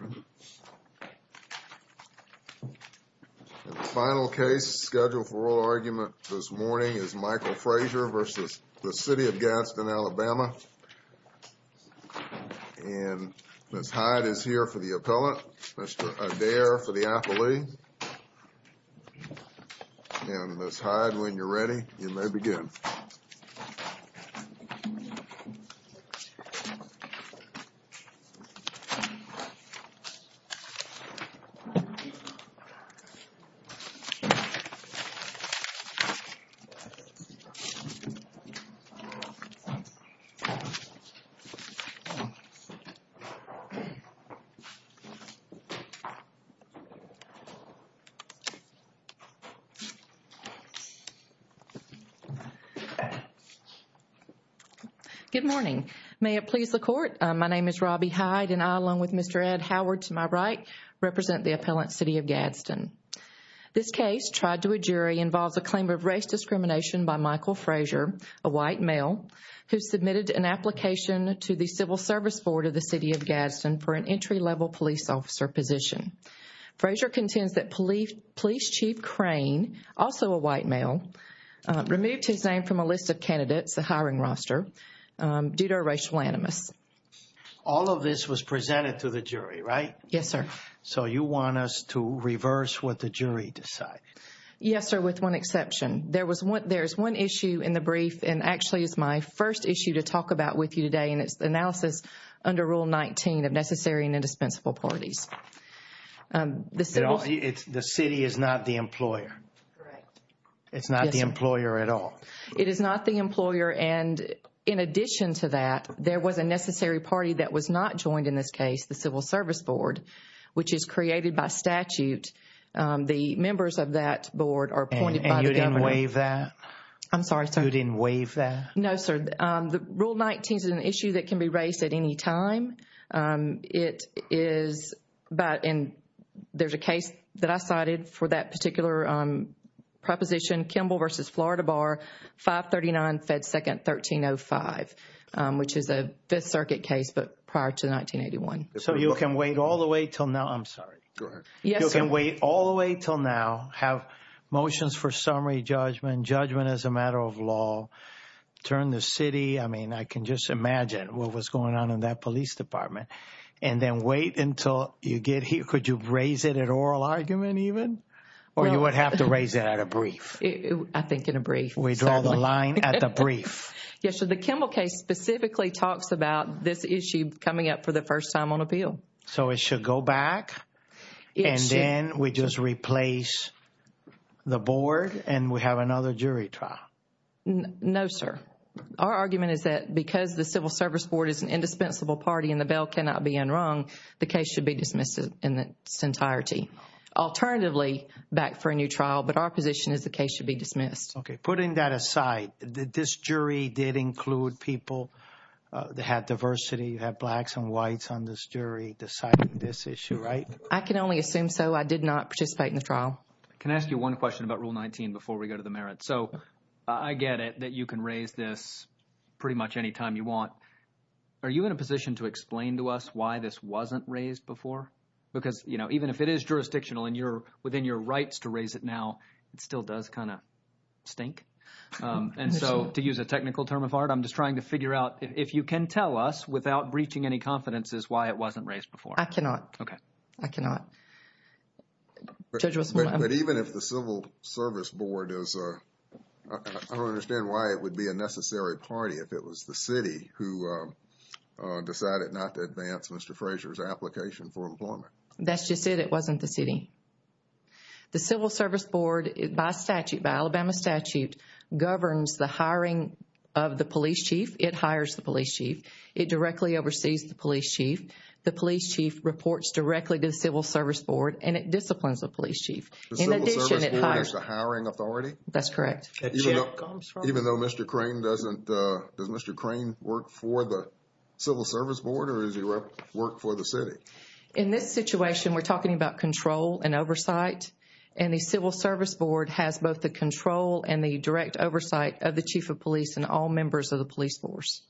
The final case scheduled for oral argument this morning is Michael Frazier v. City of Gadsden, AL and Ms. Hyde is here for the appellant, Mr. Adair for the appellee, and Ms. Hyde when you're ready, you may begin. Good morning. May it please the court, my name is Robbie Hyde and I, along with Mr. Ed Howard to my right, represent the appellant, City of Gadsden. This case, tried to a jury, involves a claim of race discrimination by Michael Frazier, a white male, who submitted an application to the Civil Service Board of the City of Gadsden for an entry-level police officer position. Frazier contends that police chief Crane, also a white male, removed his name from a list of candidates, the hiring roster, due to a racial animus. All of this was presented to the jury, right? Yes, sir. So you want us to reverse what the jury decided? Yes, sir, with one exception. There was one, there's one issue in the brief, and actually it's my first issue to talk about with you today, and it's the analysis under Rule 19 of necessary and indispensable parties. The city is not the employer. Correct. It's not the employer at all. It is not the employer, and in addition to that, there was a necessary party that was not joined in this case, the Civil Service Board, which is created by statute. The members of that board are appointed by the government. And you didn't waive that? I'm sorry, sir. You didn't waive that? No, sir. The Rule 19 is an issue that can be raised at any time. It is about, and there's a case that I cited for that particular proposition, Kimball v. Florida Bar, 539 Fed 2nd 1305, which is a Fifth Circuit case, but prior to 1981. So you can wait all the way till now, I'm sorry. Go ahead. Yes, sir. You can wait all the way till now, have motions for summary judgment, judgment as a matter of law, turn the city, I mean, I can just imagine what was going on in that police department, and then wait until you get here. Could you raise it at oral argument even, or you would have to raise it at a brief? I think in a brief. We draw the line at the brief. Yes, sir. The Kimball case specifically talks about this issue coming up for the first time on appeal. So it should go back and then we just replace the board and we have another jury trial? No, sir. Our argument is that because the Civil Service Board is an indispensable party and the bail cannot be enrung, the case should be dismissed in its entirety. Alternatively, back for a new trial, but our position is the case should be dismissed. Okay. I can only assume so. I did not participate in the trial. Can I ask you one question about Rule 19 before we go to the merits? So I get it that you can raise this pretty much any time you want. Are you in a position to explain to us why this wasn't raised before? Because, you know, even if it is jurisdictional and you're within your rights to raise it now, it still does kind of stink. And so to use a technical term of art, I'm just trying to figure out if you can tell us without breaching any confidences why it wasn't raised before. I cannot. Okay. I cannot. But even if the Civil Service Board is... I don't understand why it would be a necessary party if it was the city who decided not to advance Mr. Fraser's application for employment. That's just it. It wasn't the city. The Civil Service Board, by statute, by Alabama statute, governs the hiring of the police chief. It hires the police chief. It directly oversees the police chief. The police chief reports directly to the Civil Service Board and it disciplines the police chief. The Civil Service Board is the hiring authority? That's correct. Even though Mr. Crane doesn't... Does Mr. Crane work for the Civil Service Board or does he work for the city? In this situation, we're talking about control and oversight. And the Civil Service Board has both the control and the direct oversight of the chief of police and all members of the police force.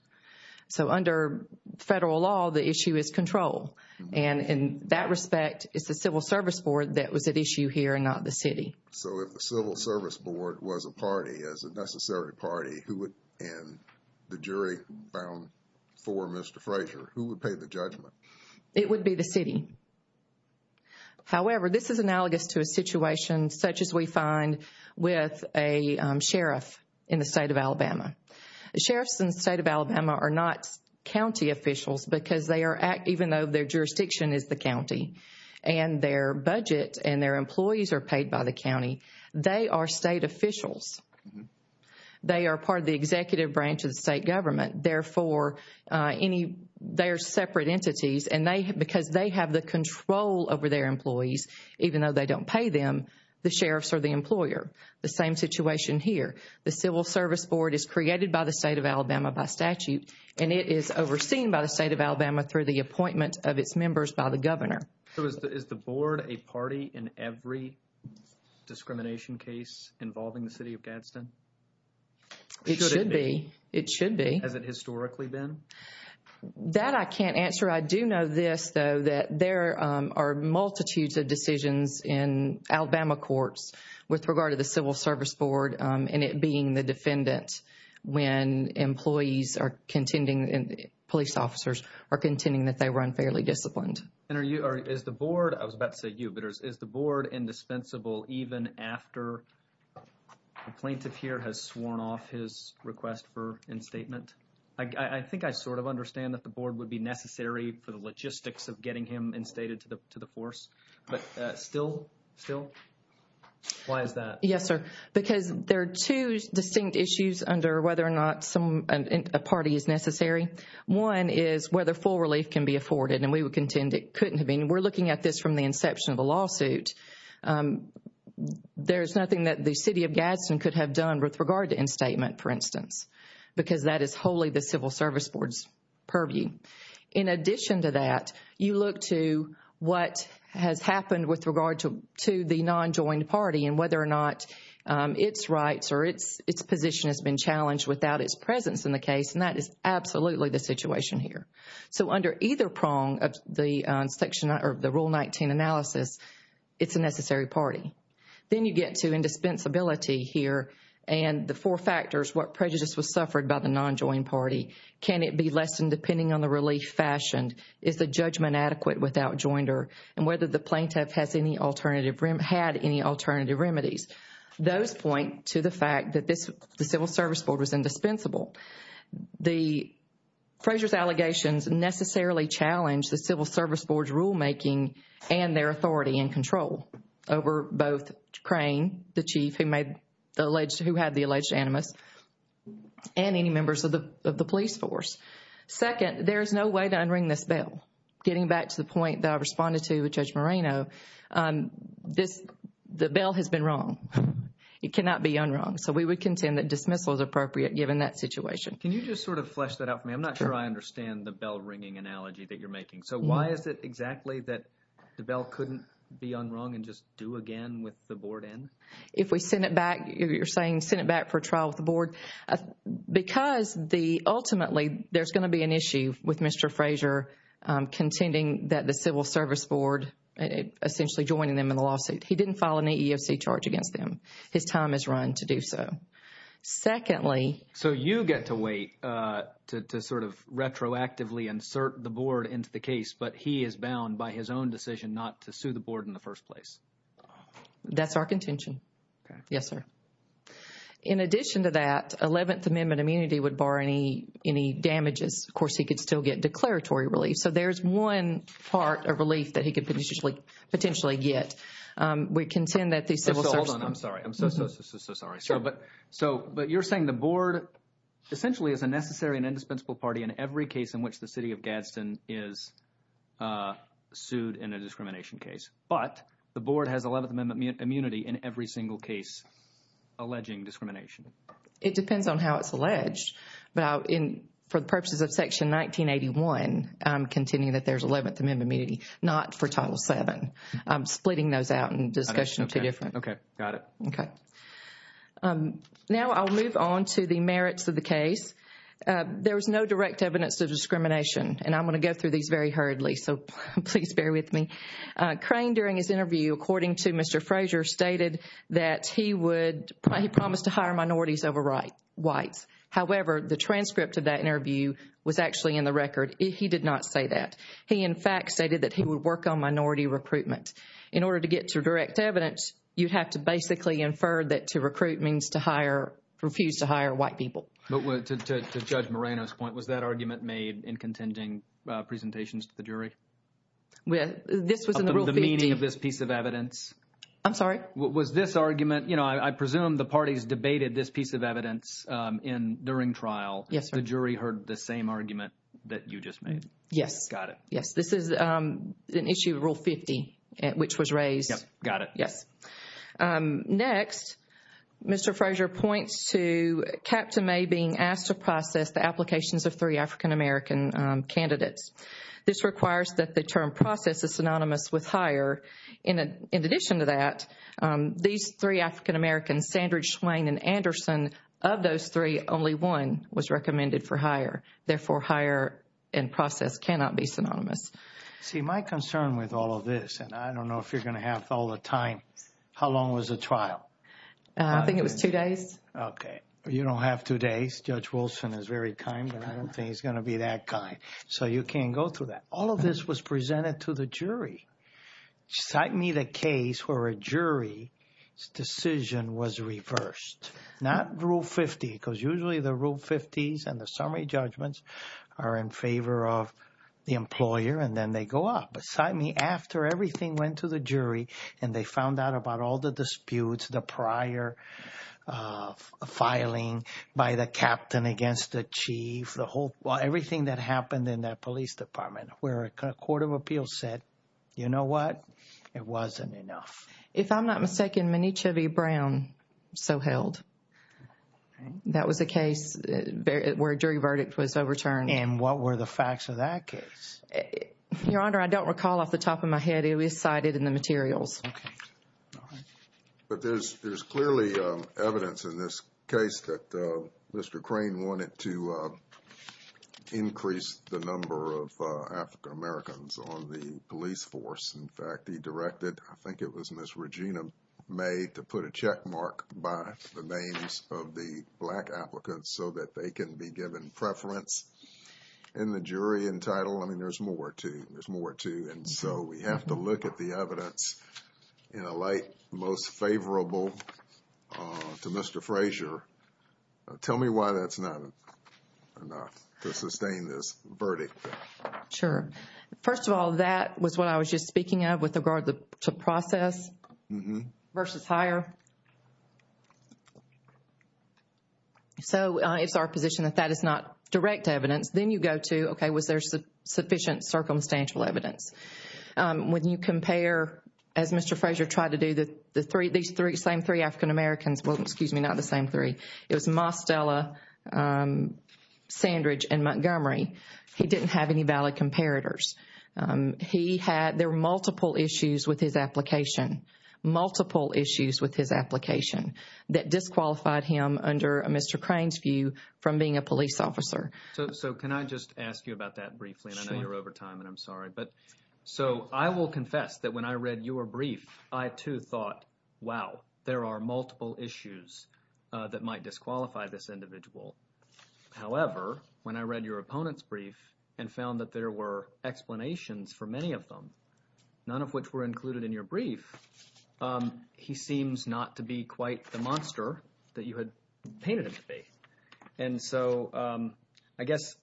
So under federal law, the issue is control. And in that respect, it's the Civil Service Board that was at issue here and not the city. So if the Civil Service Board was a party, as a necessary party, who would... And the jury found for Mr. Fraser, who would pay the judgment? It would be the city. However, this is analogous to a situation such as we find with a sheriff in the state of Alabama. The sheriffs in the state of Alabama are not county officials because they are, even though their jurisdiction is the county, and their budget and their employees are paid by the county, they are state officials. They are part of the executive branch of the state government. Therefore, they are separate entities. And because they have the control over their employees, even though they don't pay them, the sheriffs are the employer. The same situation here. The Civil Service Board is created by the state of Alabama by statute. And it is overseen by the state of Alabama through the appointment of its members by the governor. So is the board a party in every discrimination case involving the city of Gadsden? It should be. It should be. Has it historically been? That I can't answer. I do know this, though, that there are multitudes of decisions in Alabama courts with regard to the Civil Service Board and it being the defendant when employees are contending, police officers are contending that they run fairly disciplined. And is the board, I was about to say you, but is the board indispensable even after the plaintiff here has sworn off his request for instatement? I think I sort of understand that the board would be necessary for the logistics of getting him instated to the force. But still, still, why is that? Yes, sir. Because there are two distinct issues under whether or not a party is necessary. One is whether full relief can be afforded. And we would contend it couldn't have been. We're looking at this from the inception of the lawsuit. There is nothing that the city of Gadsden could have done with regard to instatement, for instance, because that is wholly the Civil Service Board's purview. In addition to that, you look to what has happened with regard to the non-joined party and whether or not its rights or its position has been challenged without its presence in the case. And that is absolutely the situation here. So under either prong of the section or the Rule 19 analysis, it's a necessary party. Then you get to indispensability here and the four factors, what prejudice was suffered by the non-joined party. Can it be lessened depending on the relief fashioned? Is the judgment adequate without joinder? And whether the plaintiff has any alternative, had any alternative remedies. Those point to the fact that the Civil Service Board was indispensable. The Frazier's allegations necessarily challenge the Civil Service Board's rulemaking and their authority and control over both Crane, the chief who had the alleged animus, and any members of the police force. Second, there is no way to unring this bell. Getting back to the point that I responded to with Judge Moreno, the bell has been rung. It cannot be unrung. So we would contend that dismissal is appropriate given that situation. Can you just sort of flesh that out for me? I'm not sure I understand the bell ringing analogy that you're making. So why is it exactly that the bell couldn't be unrung and just do again with the board in? If we send it back, you're saying send it back for trial with the board. Because ultimately there's going to be an issue with Mr. Frazier contending that the Civil Service Board essentially joining them in the lawsuit. He didn't file an EEOC charge against them. His time is run to do so. Secondly. So you get to wait to sort of retroactively insert the board into the case, but he is bound by his own decision not to sue the board in the first place. That's our contention. Yes, sir. In addition to that, 11th Amendment immunity would bar any damages. Of course, he could still get declaratory relief. So there's one part of relief that he could potentially get. We contend that the Civil Service. Hold on. I'm sorry. I'm so, so, so, so, so sorry. Sure. But you're saying the board essentially is a necessary and indispensable party in every case in which the city of Gadsden is sued in a discrimination case. But the board has 11th Amendment immunity in every single case alleging discrimination. It depends on how it's alleged. But for the purposes of Section 1981, I'm contending that there's 11th Amendment immunity, not for Title VII. I'm splitting those out in discussion of two different. Okay. Got it. Okay. Now I'll move on to the merits of the case. There was no direct evidence of discrimination. And I'm going to go through these very hurriedly, so please bear with me. Crane, during his interview, according to Mr. Frazier, stated that he would, he promised to hire minorities over whites. However, the transcript of that interview was actually in the record. He did not say that. He, in fact, stated that he would work on minority recruitment. In order to get to direct evidence, you'd have to basically infer that to recruit means to hire, refuse to hire white people. But to Judge Moreno's point, was that argument made in contending presentations to the jury? Well, this was in the Rule 50. Of the meaning of this piece of evidence? I'm sorry? Was this argument, you know, I presume the parties debated this piece of evidence during trial. Yes, sir. The jury heard the same argument that you just made? Yes. Got it. Yes. This is an issue of Rule 50, which was raised. Yep. Got it. Yes. Next, Mr. Frazier points to Captain May being asked to process the applications of three African-American candidates. This requires that the term process is synonymous with hire. In addition to that, these three African-Americans, Sandridge, Swain, and Anderson, of those three, only one was recommended for hire. Therefore, hire and process cannot be synonymous. See, my concern with all of this, and I don't know if you're going to have all the time, how long was the trial? I think it was two days. Okay. You don't have two days. Judge Wilson is very kind, but I don't think he's going to be that kind. So you can't go through that. All of this was presented to the jury. Cite me the case where a jury's decision was reversed. Not Rule 50, because usually the Rule 50s and the summary judgments are in favor of the employer, and then they go up. But cite me after everything went to the jury, and they found out about all the disputes, the prior filing by the captain against the chief, everything that happened in that police department, where a court of appeals said, you know what? It wasn't enough. If I'm not mistaken, Minichievi-Brown so held. That was a case where a jury verdict was overturned. And what were the facts of that case? Your Honor, I don't recall off the top of my head. It was cited in the materials. But there's clearly evidence in this case that Mr. Crane wanted to increase the number of African-Americans on the police force. In fact, he directed, I think it was Ms. Regina May, to put a checkmark by the names of the black applicants so that they can be given preference in the jury and title. I mean, there's more to it. So, we have to look at the evidence in a light most favorable to Mr. Fraser. Tell me why that's not enough to sustain this verdict. Sure. First of all, that was what I was just speaking of with regard to process versus hire. So, it's our position that that is not direct evidence. Then you go to, okay, was there sufficient circumstantial evidence? When you compare, as Mr. Fraser tried to do, these same three African-Americans. Well, excuse me, not the same three. It was Mostella, Sandridge, and Montgomery. He didn't have any valid comparators. He had, there were multiple issues with his application. Multiple issues with his application that disqualified him under Mr. Crane's view from being a police officer. So, can I just ask you about that briefly? I know you're over time, and I'm sorry. So, I will confess that when I read your brief, I too thought, wow, there are multiple issues that might disqualify this individual. However, when I read your opponent's brief and found that there were explanations for many of them, none of which were included in your brief, he seems not to be quite the monster that you had painted him to be. And so, I guess,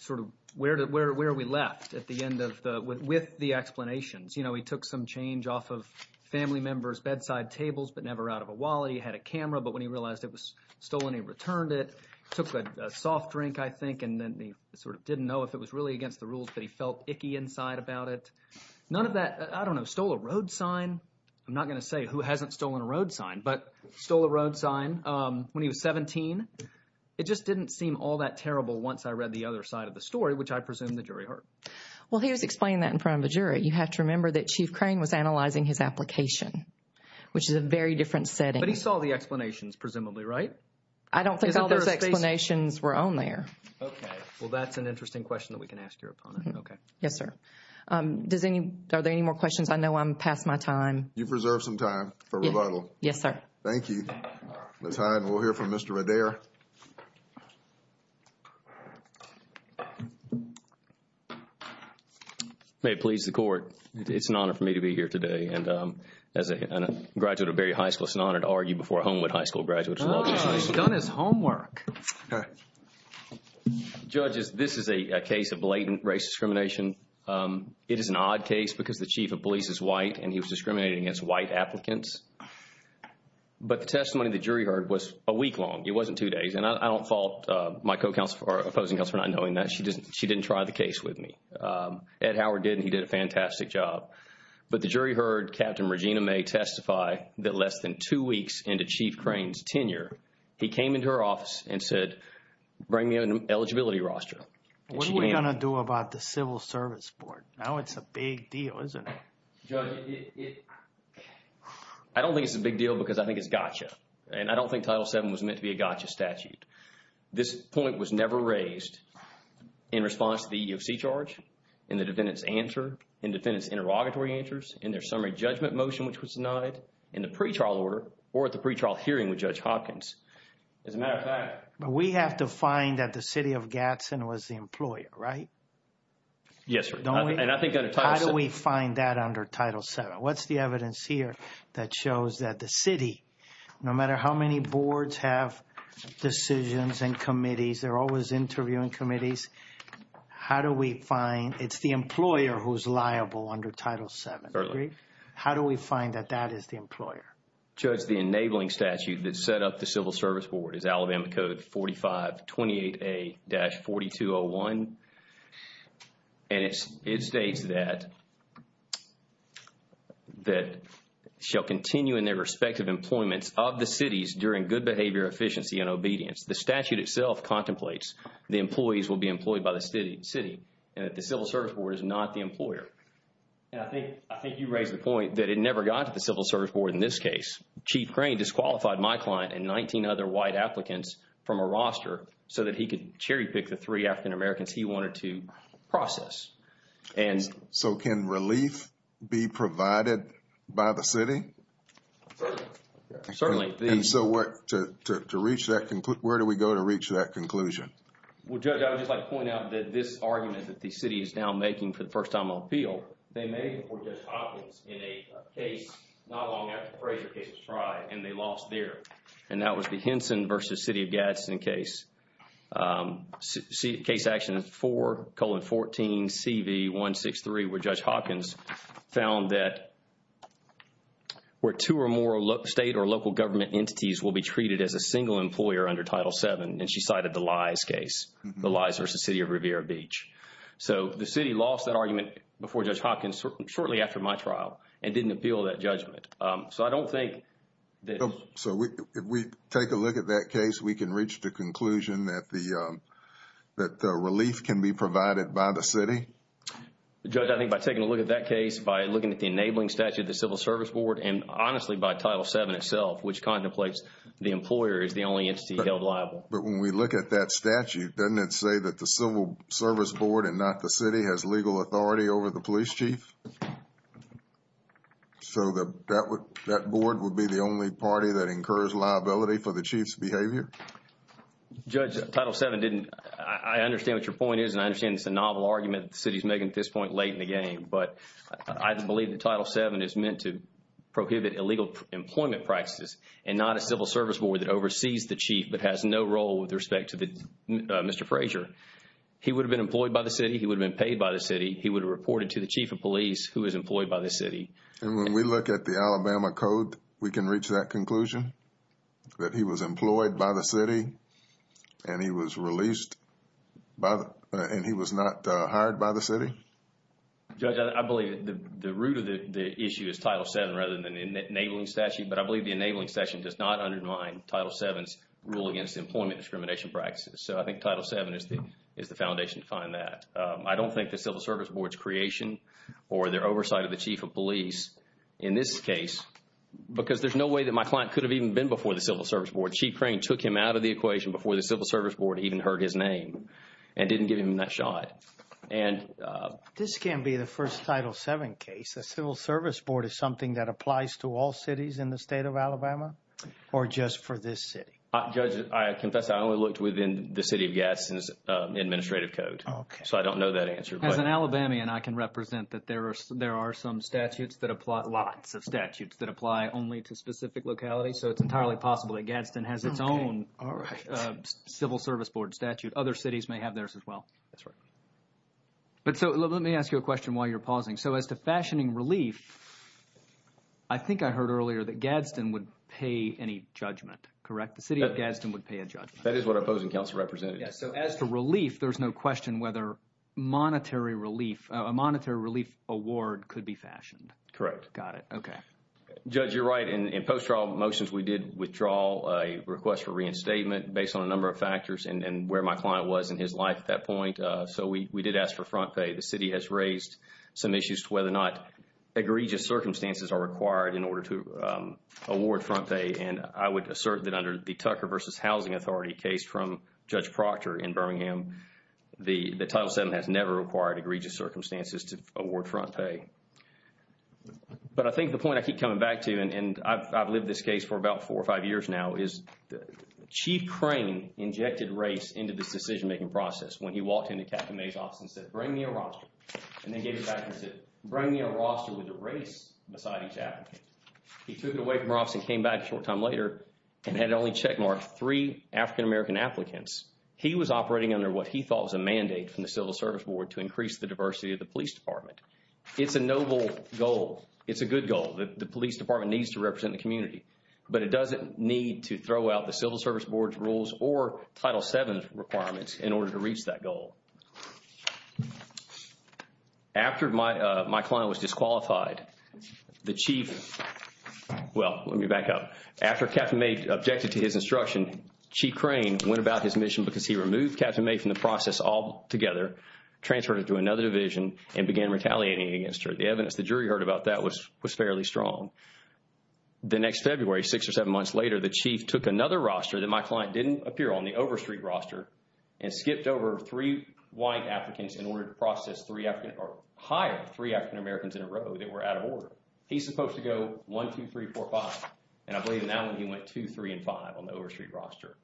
sort of, where are we left at the end of the, with the explanations? You know, he took some change off of family members' bedside tables, but never out of a wallet. He had a camera, but when he realized it was stolen, he returned it. Took a soft drink, I think, and then he sort of didn't know if it was really against the rules, but he felt icky inside about it. None of that, I don't know, stole a road sign. I'm not going to say who hasn't stolen a road sign, but stole a road sign when he was 17. It just didn't seem all that terrible once I read the other side of the story, which I presume the jury heard. Well, he was explaining that in front of a jury. You have to remember that Chief Crane was analyzing his application, which is a very different setting. But he saw the explanations, presumably, right? I don't think all those explanations were on there. Okay. Well, that's an interesting question that we can ask your opponent. Okay. Yes, sir. Does any, are there any more questions? I know I'm past my time. You preserved some time for rebuttal. Yes, sir. Thank you. We'll hear from Mr. Adair. May it please the Court, it's an honor for me to be here today. And as a graduate of Berry High School, it's an honor to argue before a Homewood High School graduate as well. He's done his homework. Okay. Judges, this is a case of blatant race discrimination. It is an odd case because the chief of police is white and he was discriminating against white applicants. But the testimony the jury heard was a week long. It wasn't two days. And I don't fault my co-counselor or opposing counsel for not knowing that. She didn't try the case with me. Ed Howard did and he did a fantastic job. But the jury heard Captain Regina May testify that less than two weeks into Chief Crane's tenure, he came into her office and said, bring me an eligibility roster. What are we going to do about the Civil Service Board? Now it's a big deal, isn't it? Judge, I don't think it's a big deal because I think it's gotcha. And I don't think Title VII was meant to be a gotcha statute. This point was never raised in response to the EEOC charge, in the defendant's answer, in defendant's interrogatory answers, in their summary judgment motion, which was denied, in the pretrial order, or at the pretrial hearing with Judge Hopkins. As a matter of fact— But we have to find that the city of Gadsden was the employer, right? Yes, sir. How do we find that under Title VII? What's the evidence here that shows that the city, no matter how many boards have decisions and committees, they're always interviewing committees, how do we find it's the employer who's liable under Title VII? How do we find that that is the employer? Judge, the enabling statute that set up the Civil Service Board is Alabama Code 4528A-4201. And it states that, that shall continue in their respective employments of the cities during good behavior, efficiency, and obedience. The statute itself contemplates the employees will be employed by the city, and that the Civil Service Board is not the employer. And I think you raised the point that it never got to the Civil Service Board in this case. Chief Crane disqualified my client and 19 other white applicants from a roster so that he could cherry pick the three African Americans he wanted to process. So can relief be provided by the city? Certainly. And so where do we go to reach that conclusion? Well, Judge, I would just like to point out that this argument that the city is now making for the first time on appeal, they made it before Judge Hopkins in a case not long after the Fraser case was tried, and they lost there. And that was the Henson v. City of Gadsden case. Case action 4-14-CV-163 where Judge Hopkins found that where two or more state or local government entities will be treated as a single employer under Title VII. And she cited the Lies case, the Lies v. City of Riviera Beach. So the city lost that argument before Judge Hopkins shortly after my trial and didn't appeal that judgment. So I don't think that... So if we take a look at that case, we can reach the conclusion that relief can be provided by the city? Judge, I think by taking a look at that case, by looking at the enabling statute of the Civil Service Board, and honestly by Title VII itself, which contemplates the employer is the only entity held liable. But when we look at that statute, doesn't it say that the Civil Service Board and not the city has legal authority over the police chief? So that board would be the only party that incurs liability for the chief's behavior? Judge, Title VII didn't... I understand what your point is and I understand it's a novel argument that the city is making at this point late in the game. But I believe that Title VII is meant to prohibit illegal employment practices and not a Civil Service Board that oversees the chief but has no role with respect to Mr. Frazier. He would have been paid by the city. He would have reported to the chief of police who is employed by the city. And when we look at the Alabama Code, we can reach that conclusion that he was employed by the city and he was released by... and he was not hired by the city? Judge, I believe the root of the issue is Title VII rather than the enabling statute. But I believe the enabling statute does not undermine Title VII's rule against employment discrimination practices. So I think Title VII is the foundation to find that. I don't think the Civil Service Board's creation or their oversight of the chief of police in this case because there's no way that my client could have even been before the Civil Service Board. Chief Crane took him out of the equation before the Civil Service Board even heard his name and didn't give him that shot. This can't be the first Title VII case. The Civil Service Board is something that applies to all cities in the state of Alabama or just for this city? Judge, I confess I only looked within the city of Gadsden's administrative code. So I don't know that answer. As an Alabamian, I can represent that there are some statutes that apply... lots of statutes that apply only to specific localities. So it's entirely possible that Gadsden has its own Civil Service Board statute. Other cities may have theirs as well. But so let me ask you a question while you're pausing. So as to fashioning relief, I think I heard earlier that Gadsden would pay any judgment, correct? The city of Gadsden would pay a judgment. That is what opposing counsel represented. So as to relief, there's no question whether monetary relief... a monetary relief award could be fashioned. Correct. Got it. Okay. Judge, you're right. In post-trial motions, we did withdraw a request for reinstatement based on a number of factors and where my client was in his life at that point. So we did ask for front pay. The city has raised some issues to whether or not egregious circumstances are required in order to award front pay. And I would assert that under the Tucker v. Housing Authority case from Judge Proctor in Birmingham, the Title VII has never required egregious circumstances to award front pay. But I think the point I keep coming back to, and I've lived this case for about four or five years now, is Chief Crane injected race into this decision-making process when he walked into Captain May's office and said, Bring me a roster. And then gave it back and said, Bring me a roster with the race beside each applicant. He took it away from her office and came back a short time later and had only checkmarked three African-American applicants. He was operating under what he thought was a mandate from the Civil Service Board to increase the diversity of the police department. It's a noble goal. It's a good goal. The police department needs to represent the community. But it doesn't need to throw out the Civil Service Board's rules or Title VII's requirements in order to reach that goal. After my client was disqualified, the Chief – well, let me back up. After Captain May objected to his instruction, Chief Crane went about his mission because he removed Captain May from the process altogether, transferred her to another division, and began retaliating against her. The evidence the jury heard about that was fairly strong. The next February, six or seven months later, the Chief took another roster that my client didn't appear on, the Overstreet roster, and skipped over three white applicants in order to process three African – or hire three African-Americans in a row that were out of order. He's supposed to go one, two, three, four, five. And I believe in that one, he went two, three, and five on the Overstreet roster.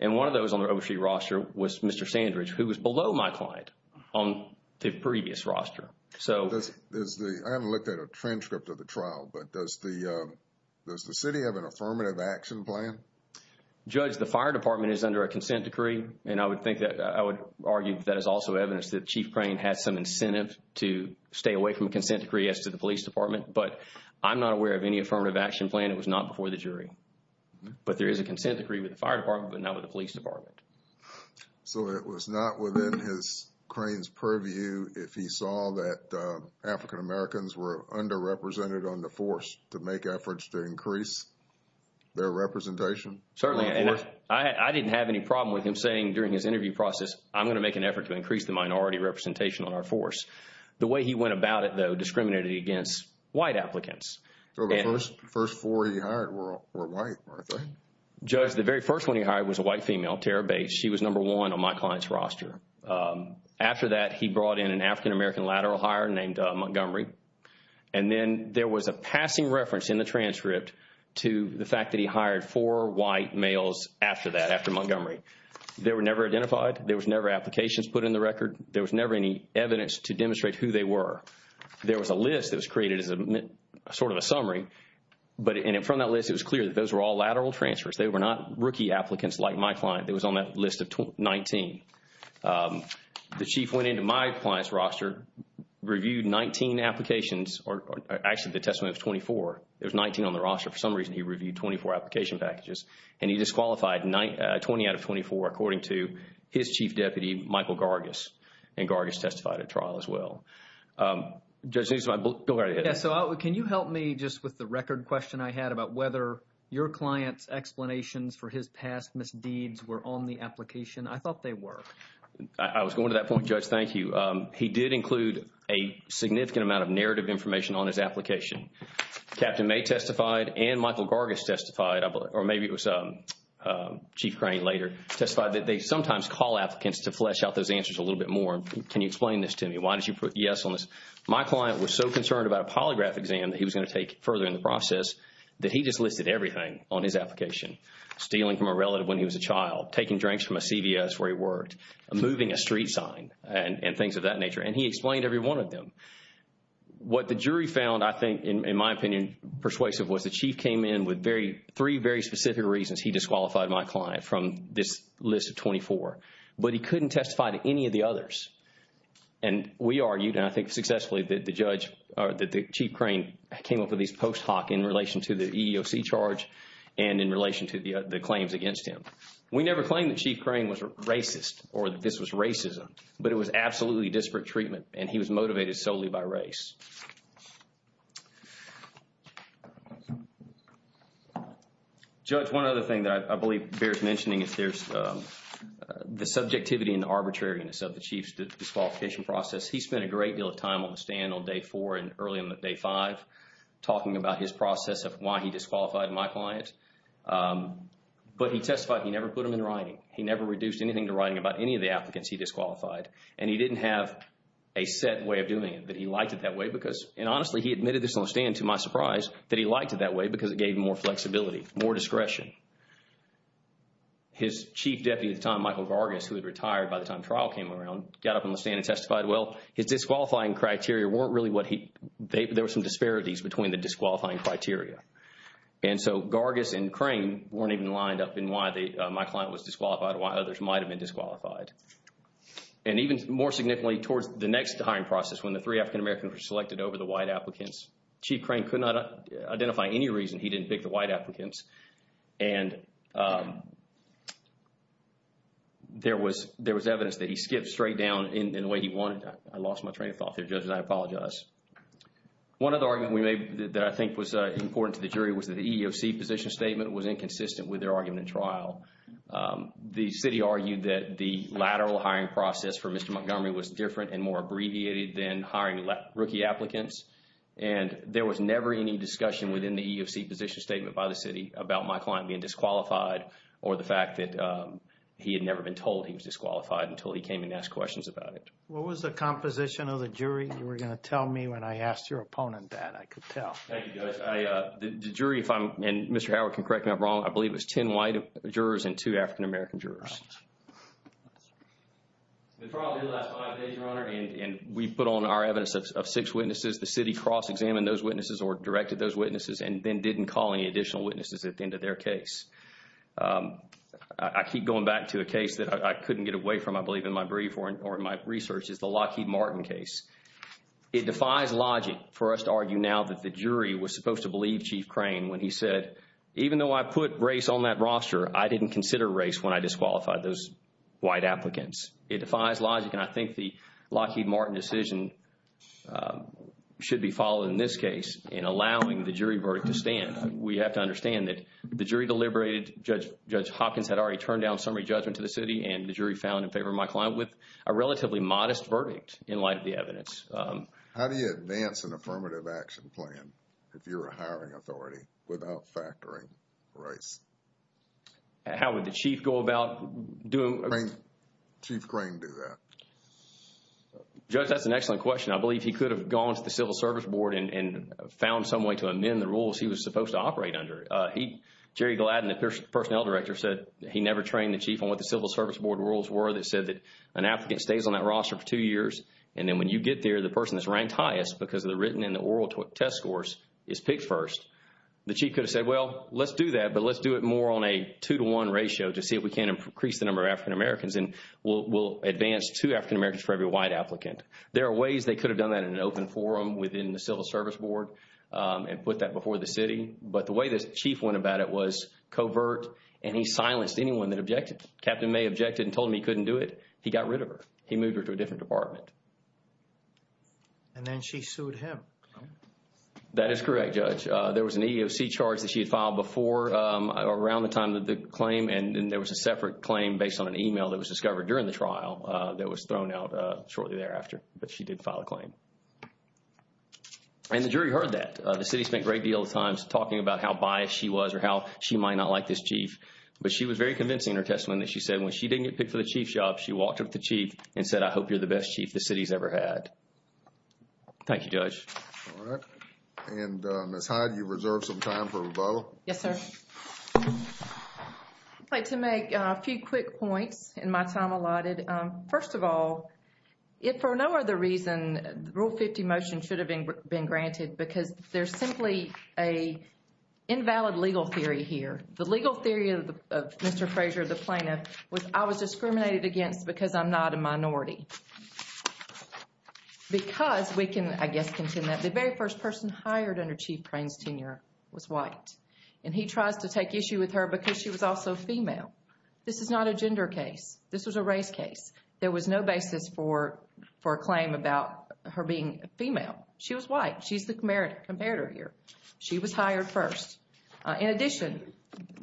And one of those on the Overstreet roster was Mr. Sandridge, who was below my client on the previous roster. So – I haven't looked at a transcript of the trial, but does the city have an affirmative action plan? Judge, the fire department is under a consent decree. And I would think that – I would argue that is also evidence that Chief Crane has some incentive to stay away from a consent decree as to the police department. But I'm not aware of any affirmative action plan. It was not before the jury. But there is a consent decree with the fire department, but not with the police department. So it was not within his – Crane's purview if he saw that African-Americans were underrepresented on the force to make efforts to increase their representation? Certainly. And I didn't have any problem with him saying during his interview process, I'm going to make an effort to increase the minority representation on our force. The way he went about it, though, discriminated against white applicants. So the first four he hired were white, weren't they? Judge, the very first one he hired was a white female, Tara Bates. She was number one on my client's roster. After that, he brought in an African-American lateral hire named Montgomery. And then there was a passing reference in the transcript to the fact that he hired four white males after that, after Montgomery. They were never identified. There was never applications put in the record. There was never any evidence to demonstrate who they were. There was a list that was created as a sort of a summary. But in front of that list, it was clear that those were all lateral transfers. They were not rookie applicants like my client. It was on that list of 19. The chief went into my client's roster, reviewed 19 applications, or actually the testimony of 24. There's 19 on the roster. For some reason, he reviewed 24 application packages. And he disqualified 20 out of 24 according to his chief deputy, Michael Gargis. And Gargis testified at trial as well. Judge, this is my book. Go right ahead. Yes. So can you help me just with the record question I had about whether your client's explanations for his past misdeeds were on the application? I thought they were. I was going to that point, Judge. Thank you. He did include a significant amount of narrative information on his application. Captain May testified and Michael Gargis testified, or maybe it was Chief Crane later testified that they sometimes call applicants to flesh out those answers a little bit more. Can you explain this to me? Why did you put yes on this? My client was so concerned about a polygraph exam that he was going to take further in the process that he just listed everything on his application. Stealing from a relative when he was a child, taking drinks from a CVS where he worked, moving a street sign, and things of that nature. And he explained every one of them. What the jury found, I think, in my opinion, persuasive was the Chief came in with three very specific reasons he disqualified my client from this list of 24. But he couldn't testify to any of the others. And we argued, and I think successfully, that the Chief Crane came up with these post hoc in relation to the EEOC charge and in relation to the claims against him. We never claimed that Chief Crane was racist or that this was racism, but it was absolutely disparate treatment and he was motivated solely by race. Judge, one other thing that I believe bears mentioning is there's the subjectivity and arbitrariness of the Chief's disqualification process. He spent a great deal of time on the stand on day four and early on day five talking about his process of why he disqualified my client. But he testified he never put them in writing. He never reduced anything to writing about any of the applicants he disqualified and he didn't have a set way of doing it, but he liked it that way because, and honestly, he admitted this on the stand to my surprise, that he liked it that way because it gave him more flexibility, more discretion. His Chief Deputy at the time, Michael Gargis, who had retired by the time trial came around, got up on the stand and testified, well, his disqualifying criteria weren't really what he, there were some disparities between the disqualifying criteria. And so Gargis and Crane weren't even lined up in why my client was disqualified and why others might have been disqualified. And even more significantly towards the next hiring process, when the three African-Americans were selected over the white applicants, Chief Crane could not identify any reason he didn't pick the white applicants. And there was evidence that he skipped straight down in the way he wanted. I lost my train of thought there, judges. I apologize. One other argument that I think was important to the jury was that the EEOC position statement was inconsistent with their argument in trial. The city argued that the lateral hiring process for Mr. Montgomery was different and more abbreviated than hiring rookie applicants. And there was never any discussion within the EEOC position statement by the city about my client being disqualified or the fact that he had never been told he was disqualified until he came and asked questions about it. What was the composition of the jury you were going to tell me when I asked your opponent that? I could tell. Thank you, guys. The jury, if I'm, and Mr. Howard can correct me if I'm wrong, I believe it was ten white jurors and two African-American jurors. The trial did last five days, Your Honor, and we put on our evidence of six witnesses. The city cross-examined those witnesses or directed those witnesses and then didn't call any additional witnesses at the end of their case. I keep going back to a case that I couldn't get away from, I believe, in my brief or in my research is the Lockheed Martin case. It defies logic for us to argue now that the jury was supposed to believe Chief Crane when he said, even though I put race on that roster, I didn't consider race when I disqualified those white applicants. It defies logic and I think the Lockheed Martin decision should be followed in this case in allowing the jury verdict to stand. We have to understand that the jury deliberated, Judge Hopkins had already turned down summary judgment to the city and the jury found in favor of my client with a relatively modest verdict in light of the evidence. How do you advance an affirmative action plan if you're a hiring authority without factoring race? How would the Chief go about doing? Chief Crane do that. Judge, that's an excellent question. I believe he could have gone to the Civil Service Board and found some way to amend the rules he was supposed to operate under. Jerry Gladden, the Personnel Director, said he never trained the Chief on what the Civil Service Board rules were. They said that an applicant stays on that roster for two years and then when you get there, the person that's ranked highest because of the written and the oral test scores is picked first. The Chief could have said, well, let's do that, but let's do it more on a two-to-one ratio to see if we can increase the number of African Americans and we'll advance two African Americans for every white applicant. There are ways they could have done that in an open forum within the Civil Service Board and put that before the city, but the way the Chief went about it was covert and he silenced anyone that objected. Captain May objected and told him he couldn't do it. He got rid of her. He moved her to a different department. And then she sued him. That is correct, Judge. There was an EEOC charge that she had filed before around the time of the claim and there was a separate claim based on an email that was discovered during the trial that was thrown out shortly thereafter, but she did file a claim. And the jury heard that. The city spent a great deal of time talking about how biased she was or how she might not like this Chief, but she was very convincing in her testimony that she said when she didn't get picked for the Chief job, she walked up to the Chief and said, I hope you're the best Chief the city's ever had. Thank you, Judge. All right. And Ms. Hyde, you've reserved some time for rebuttal. Yes, sir. I'd like to make a few quick points in my time allotted. First of all, if for no other reason the Rule 50 motion should have been granted because there's simply an invalid legal theory here. The legal theory of Mr. Frazier, the plaintiff, was I was discriminated against because I'm not a minority. Because we can, I guess, contend that the very first person hired under Chief Crane's tenure was white and he tries to take issue with her because she was also female. This is not a gender case. This was a race case. There was no basis for a claim about her being female. She was white. She's the comparator here. She was hired first. In addition,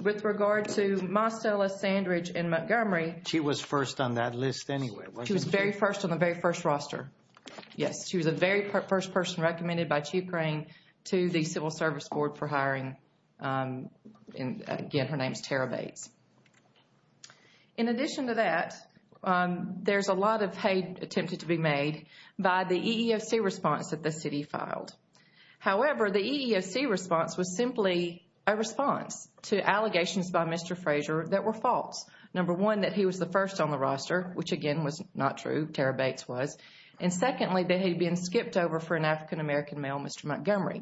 with regard to Marcella Sandridge in Montgomery. She was first on that list anyway, wasn't she? She was very first on the very first roster. Yes. She was the very first person recommended by Chief Crane to the Civil Service Board for hiring. And again, her name is Tara Bates. In addition to that, there's a lot of hate attempted to be made by the EEOC response that the city filed. However, the EEOC response was simply a response to allegations by Mr. Frazier that were false. Number one, that he was the first on the roster, which again was not true. Tara Bates was. And secondly, that he'd been skipped over for an African American male, Mr. Montgomery.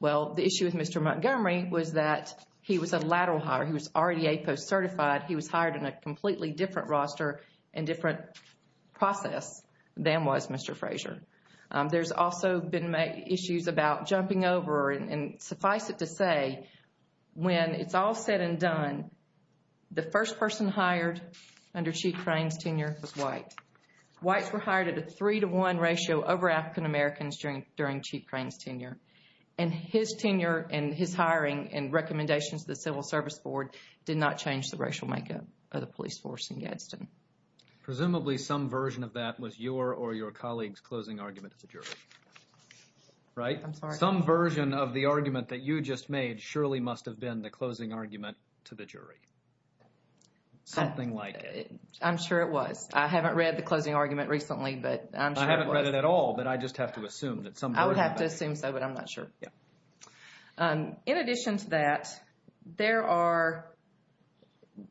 Well, the issue with Mr. Montgomery was that he was a lateral hire. He was already a post-certified. He was hired in a completely different roster and different process than was Mr. Frazier. There's also been issues about jumping over. And suffice it to say, when it's all said and done, the first person hired under Chief Crane's tenure was white. Whites were hired at a three to one ratio over African Americans during Chief Crane's tenure. And his tenure and his hiring and recommendations to the Civil Service Board did not change the racial makeup of the police force in Gadsden. Presumably some version of that was your or your colleague's closing argument to the jury. Right? I'm sorry. Some version of the argument that you just made surely must have been the closing argument to the jury. Something like it. I'm sure it was. I haven't read the closing argument recently, but I'm sure it was. I haven't read it at all, but I just have to assume that some version of it. I would have to assume so, but I'm not sure. Yeah. In addition to that, there are,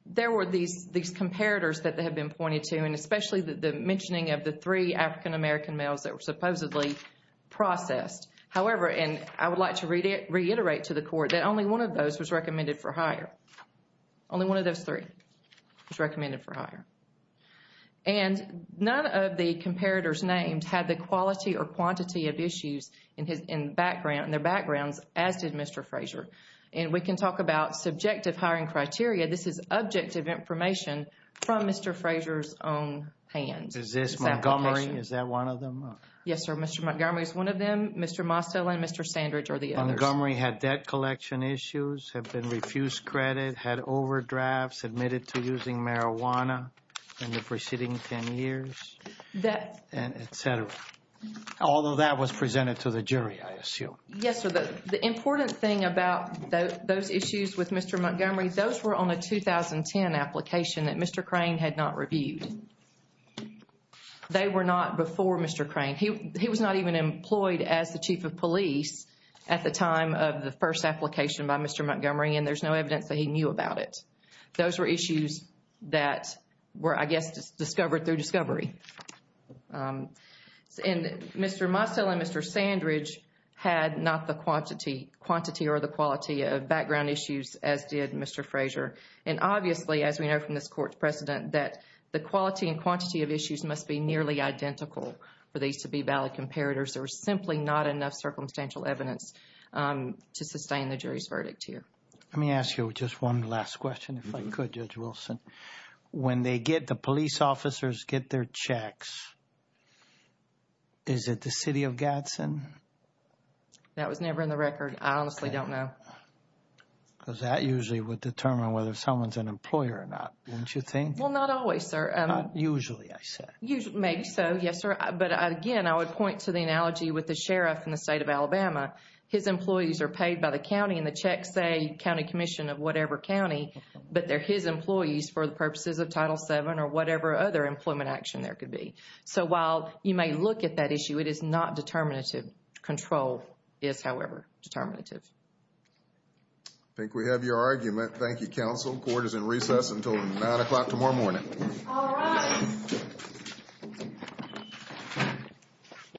there were these comparators that have been pointed to, and especially the mentioning of the three African American males that were supposedly processed. However, and I would like to reiterate to the court, that only one of those was recommended for hire. Only one of those three was recommended for hire. And none of the comparators named had the quality or quantity of issues in their backgrounds, as did Mr. Frazier. And we can talk about subjective hiring criteria. This is objective information from Mr. Frazier's own hands. Is this Montgomery? Is that one of them? Yes, sir. Mr. Montgomery is one of them. Mr. Mostel and Mr. Sandridge are the others. Montgomery had debt collection issues, had been refused credit, had overdrafts, admitted to using marijuana in the preceding 10 years, et cetera. Although that was presented to the jury, I assume. Yes, sir. The important thing about those issues with Mr. Montgomery, those were on a 2010 application that Mr. Crane had not reviewed. They were not before Mr. Crane. He was not even employed as the chief of police at the time of the first application by Mr. Montgomery, and there's no evidence that he knew about it. Those were issues that were, I guess, discovered through discovery. And Mr. Mostel and Mr. Sandridge had not the quantity or the quality of background issues as did Mr. Frazier. And obviously, as we know from this court's precedent, that the quality and quantity of issues must be nearly identical for these to be valid comparators. There was simply not enough circumstantial evidence to sustain the jury's verdict here. Let me ask you just one last question, if I could, Judge Wilson. When the police officers get their checks, is it the city of Gadsden? That was never in the record. I honestly don't know. Because that usually would determine whether someone's an employer or not, don't you think? Well, not always, sir. Not usually, I said. Maybe so, yes, sir. But again, I would point to the analogy with the sheriff in the state of Alabama. His employees are paid by the county and the checks say county commission of employees for the purposes of Title VII or whatever other employment action there could be. So while you may look at that issue, it is not determinative. Control is, however, determinative. I think we have your argument. Thank you, counsel. Court is in recess until 9 o'clock tomorrow morning. All right.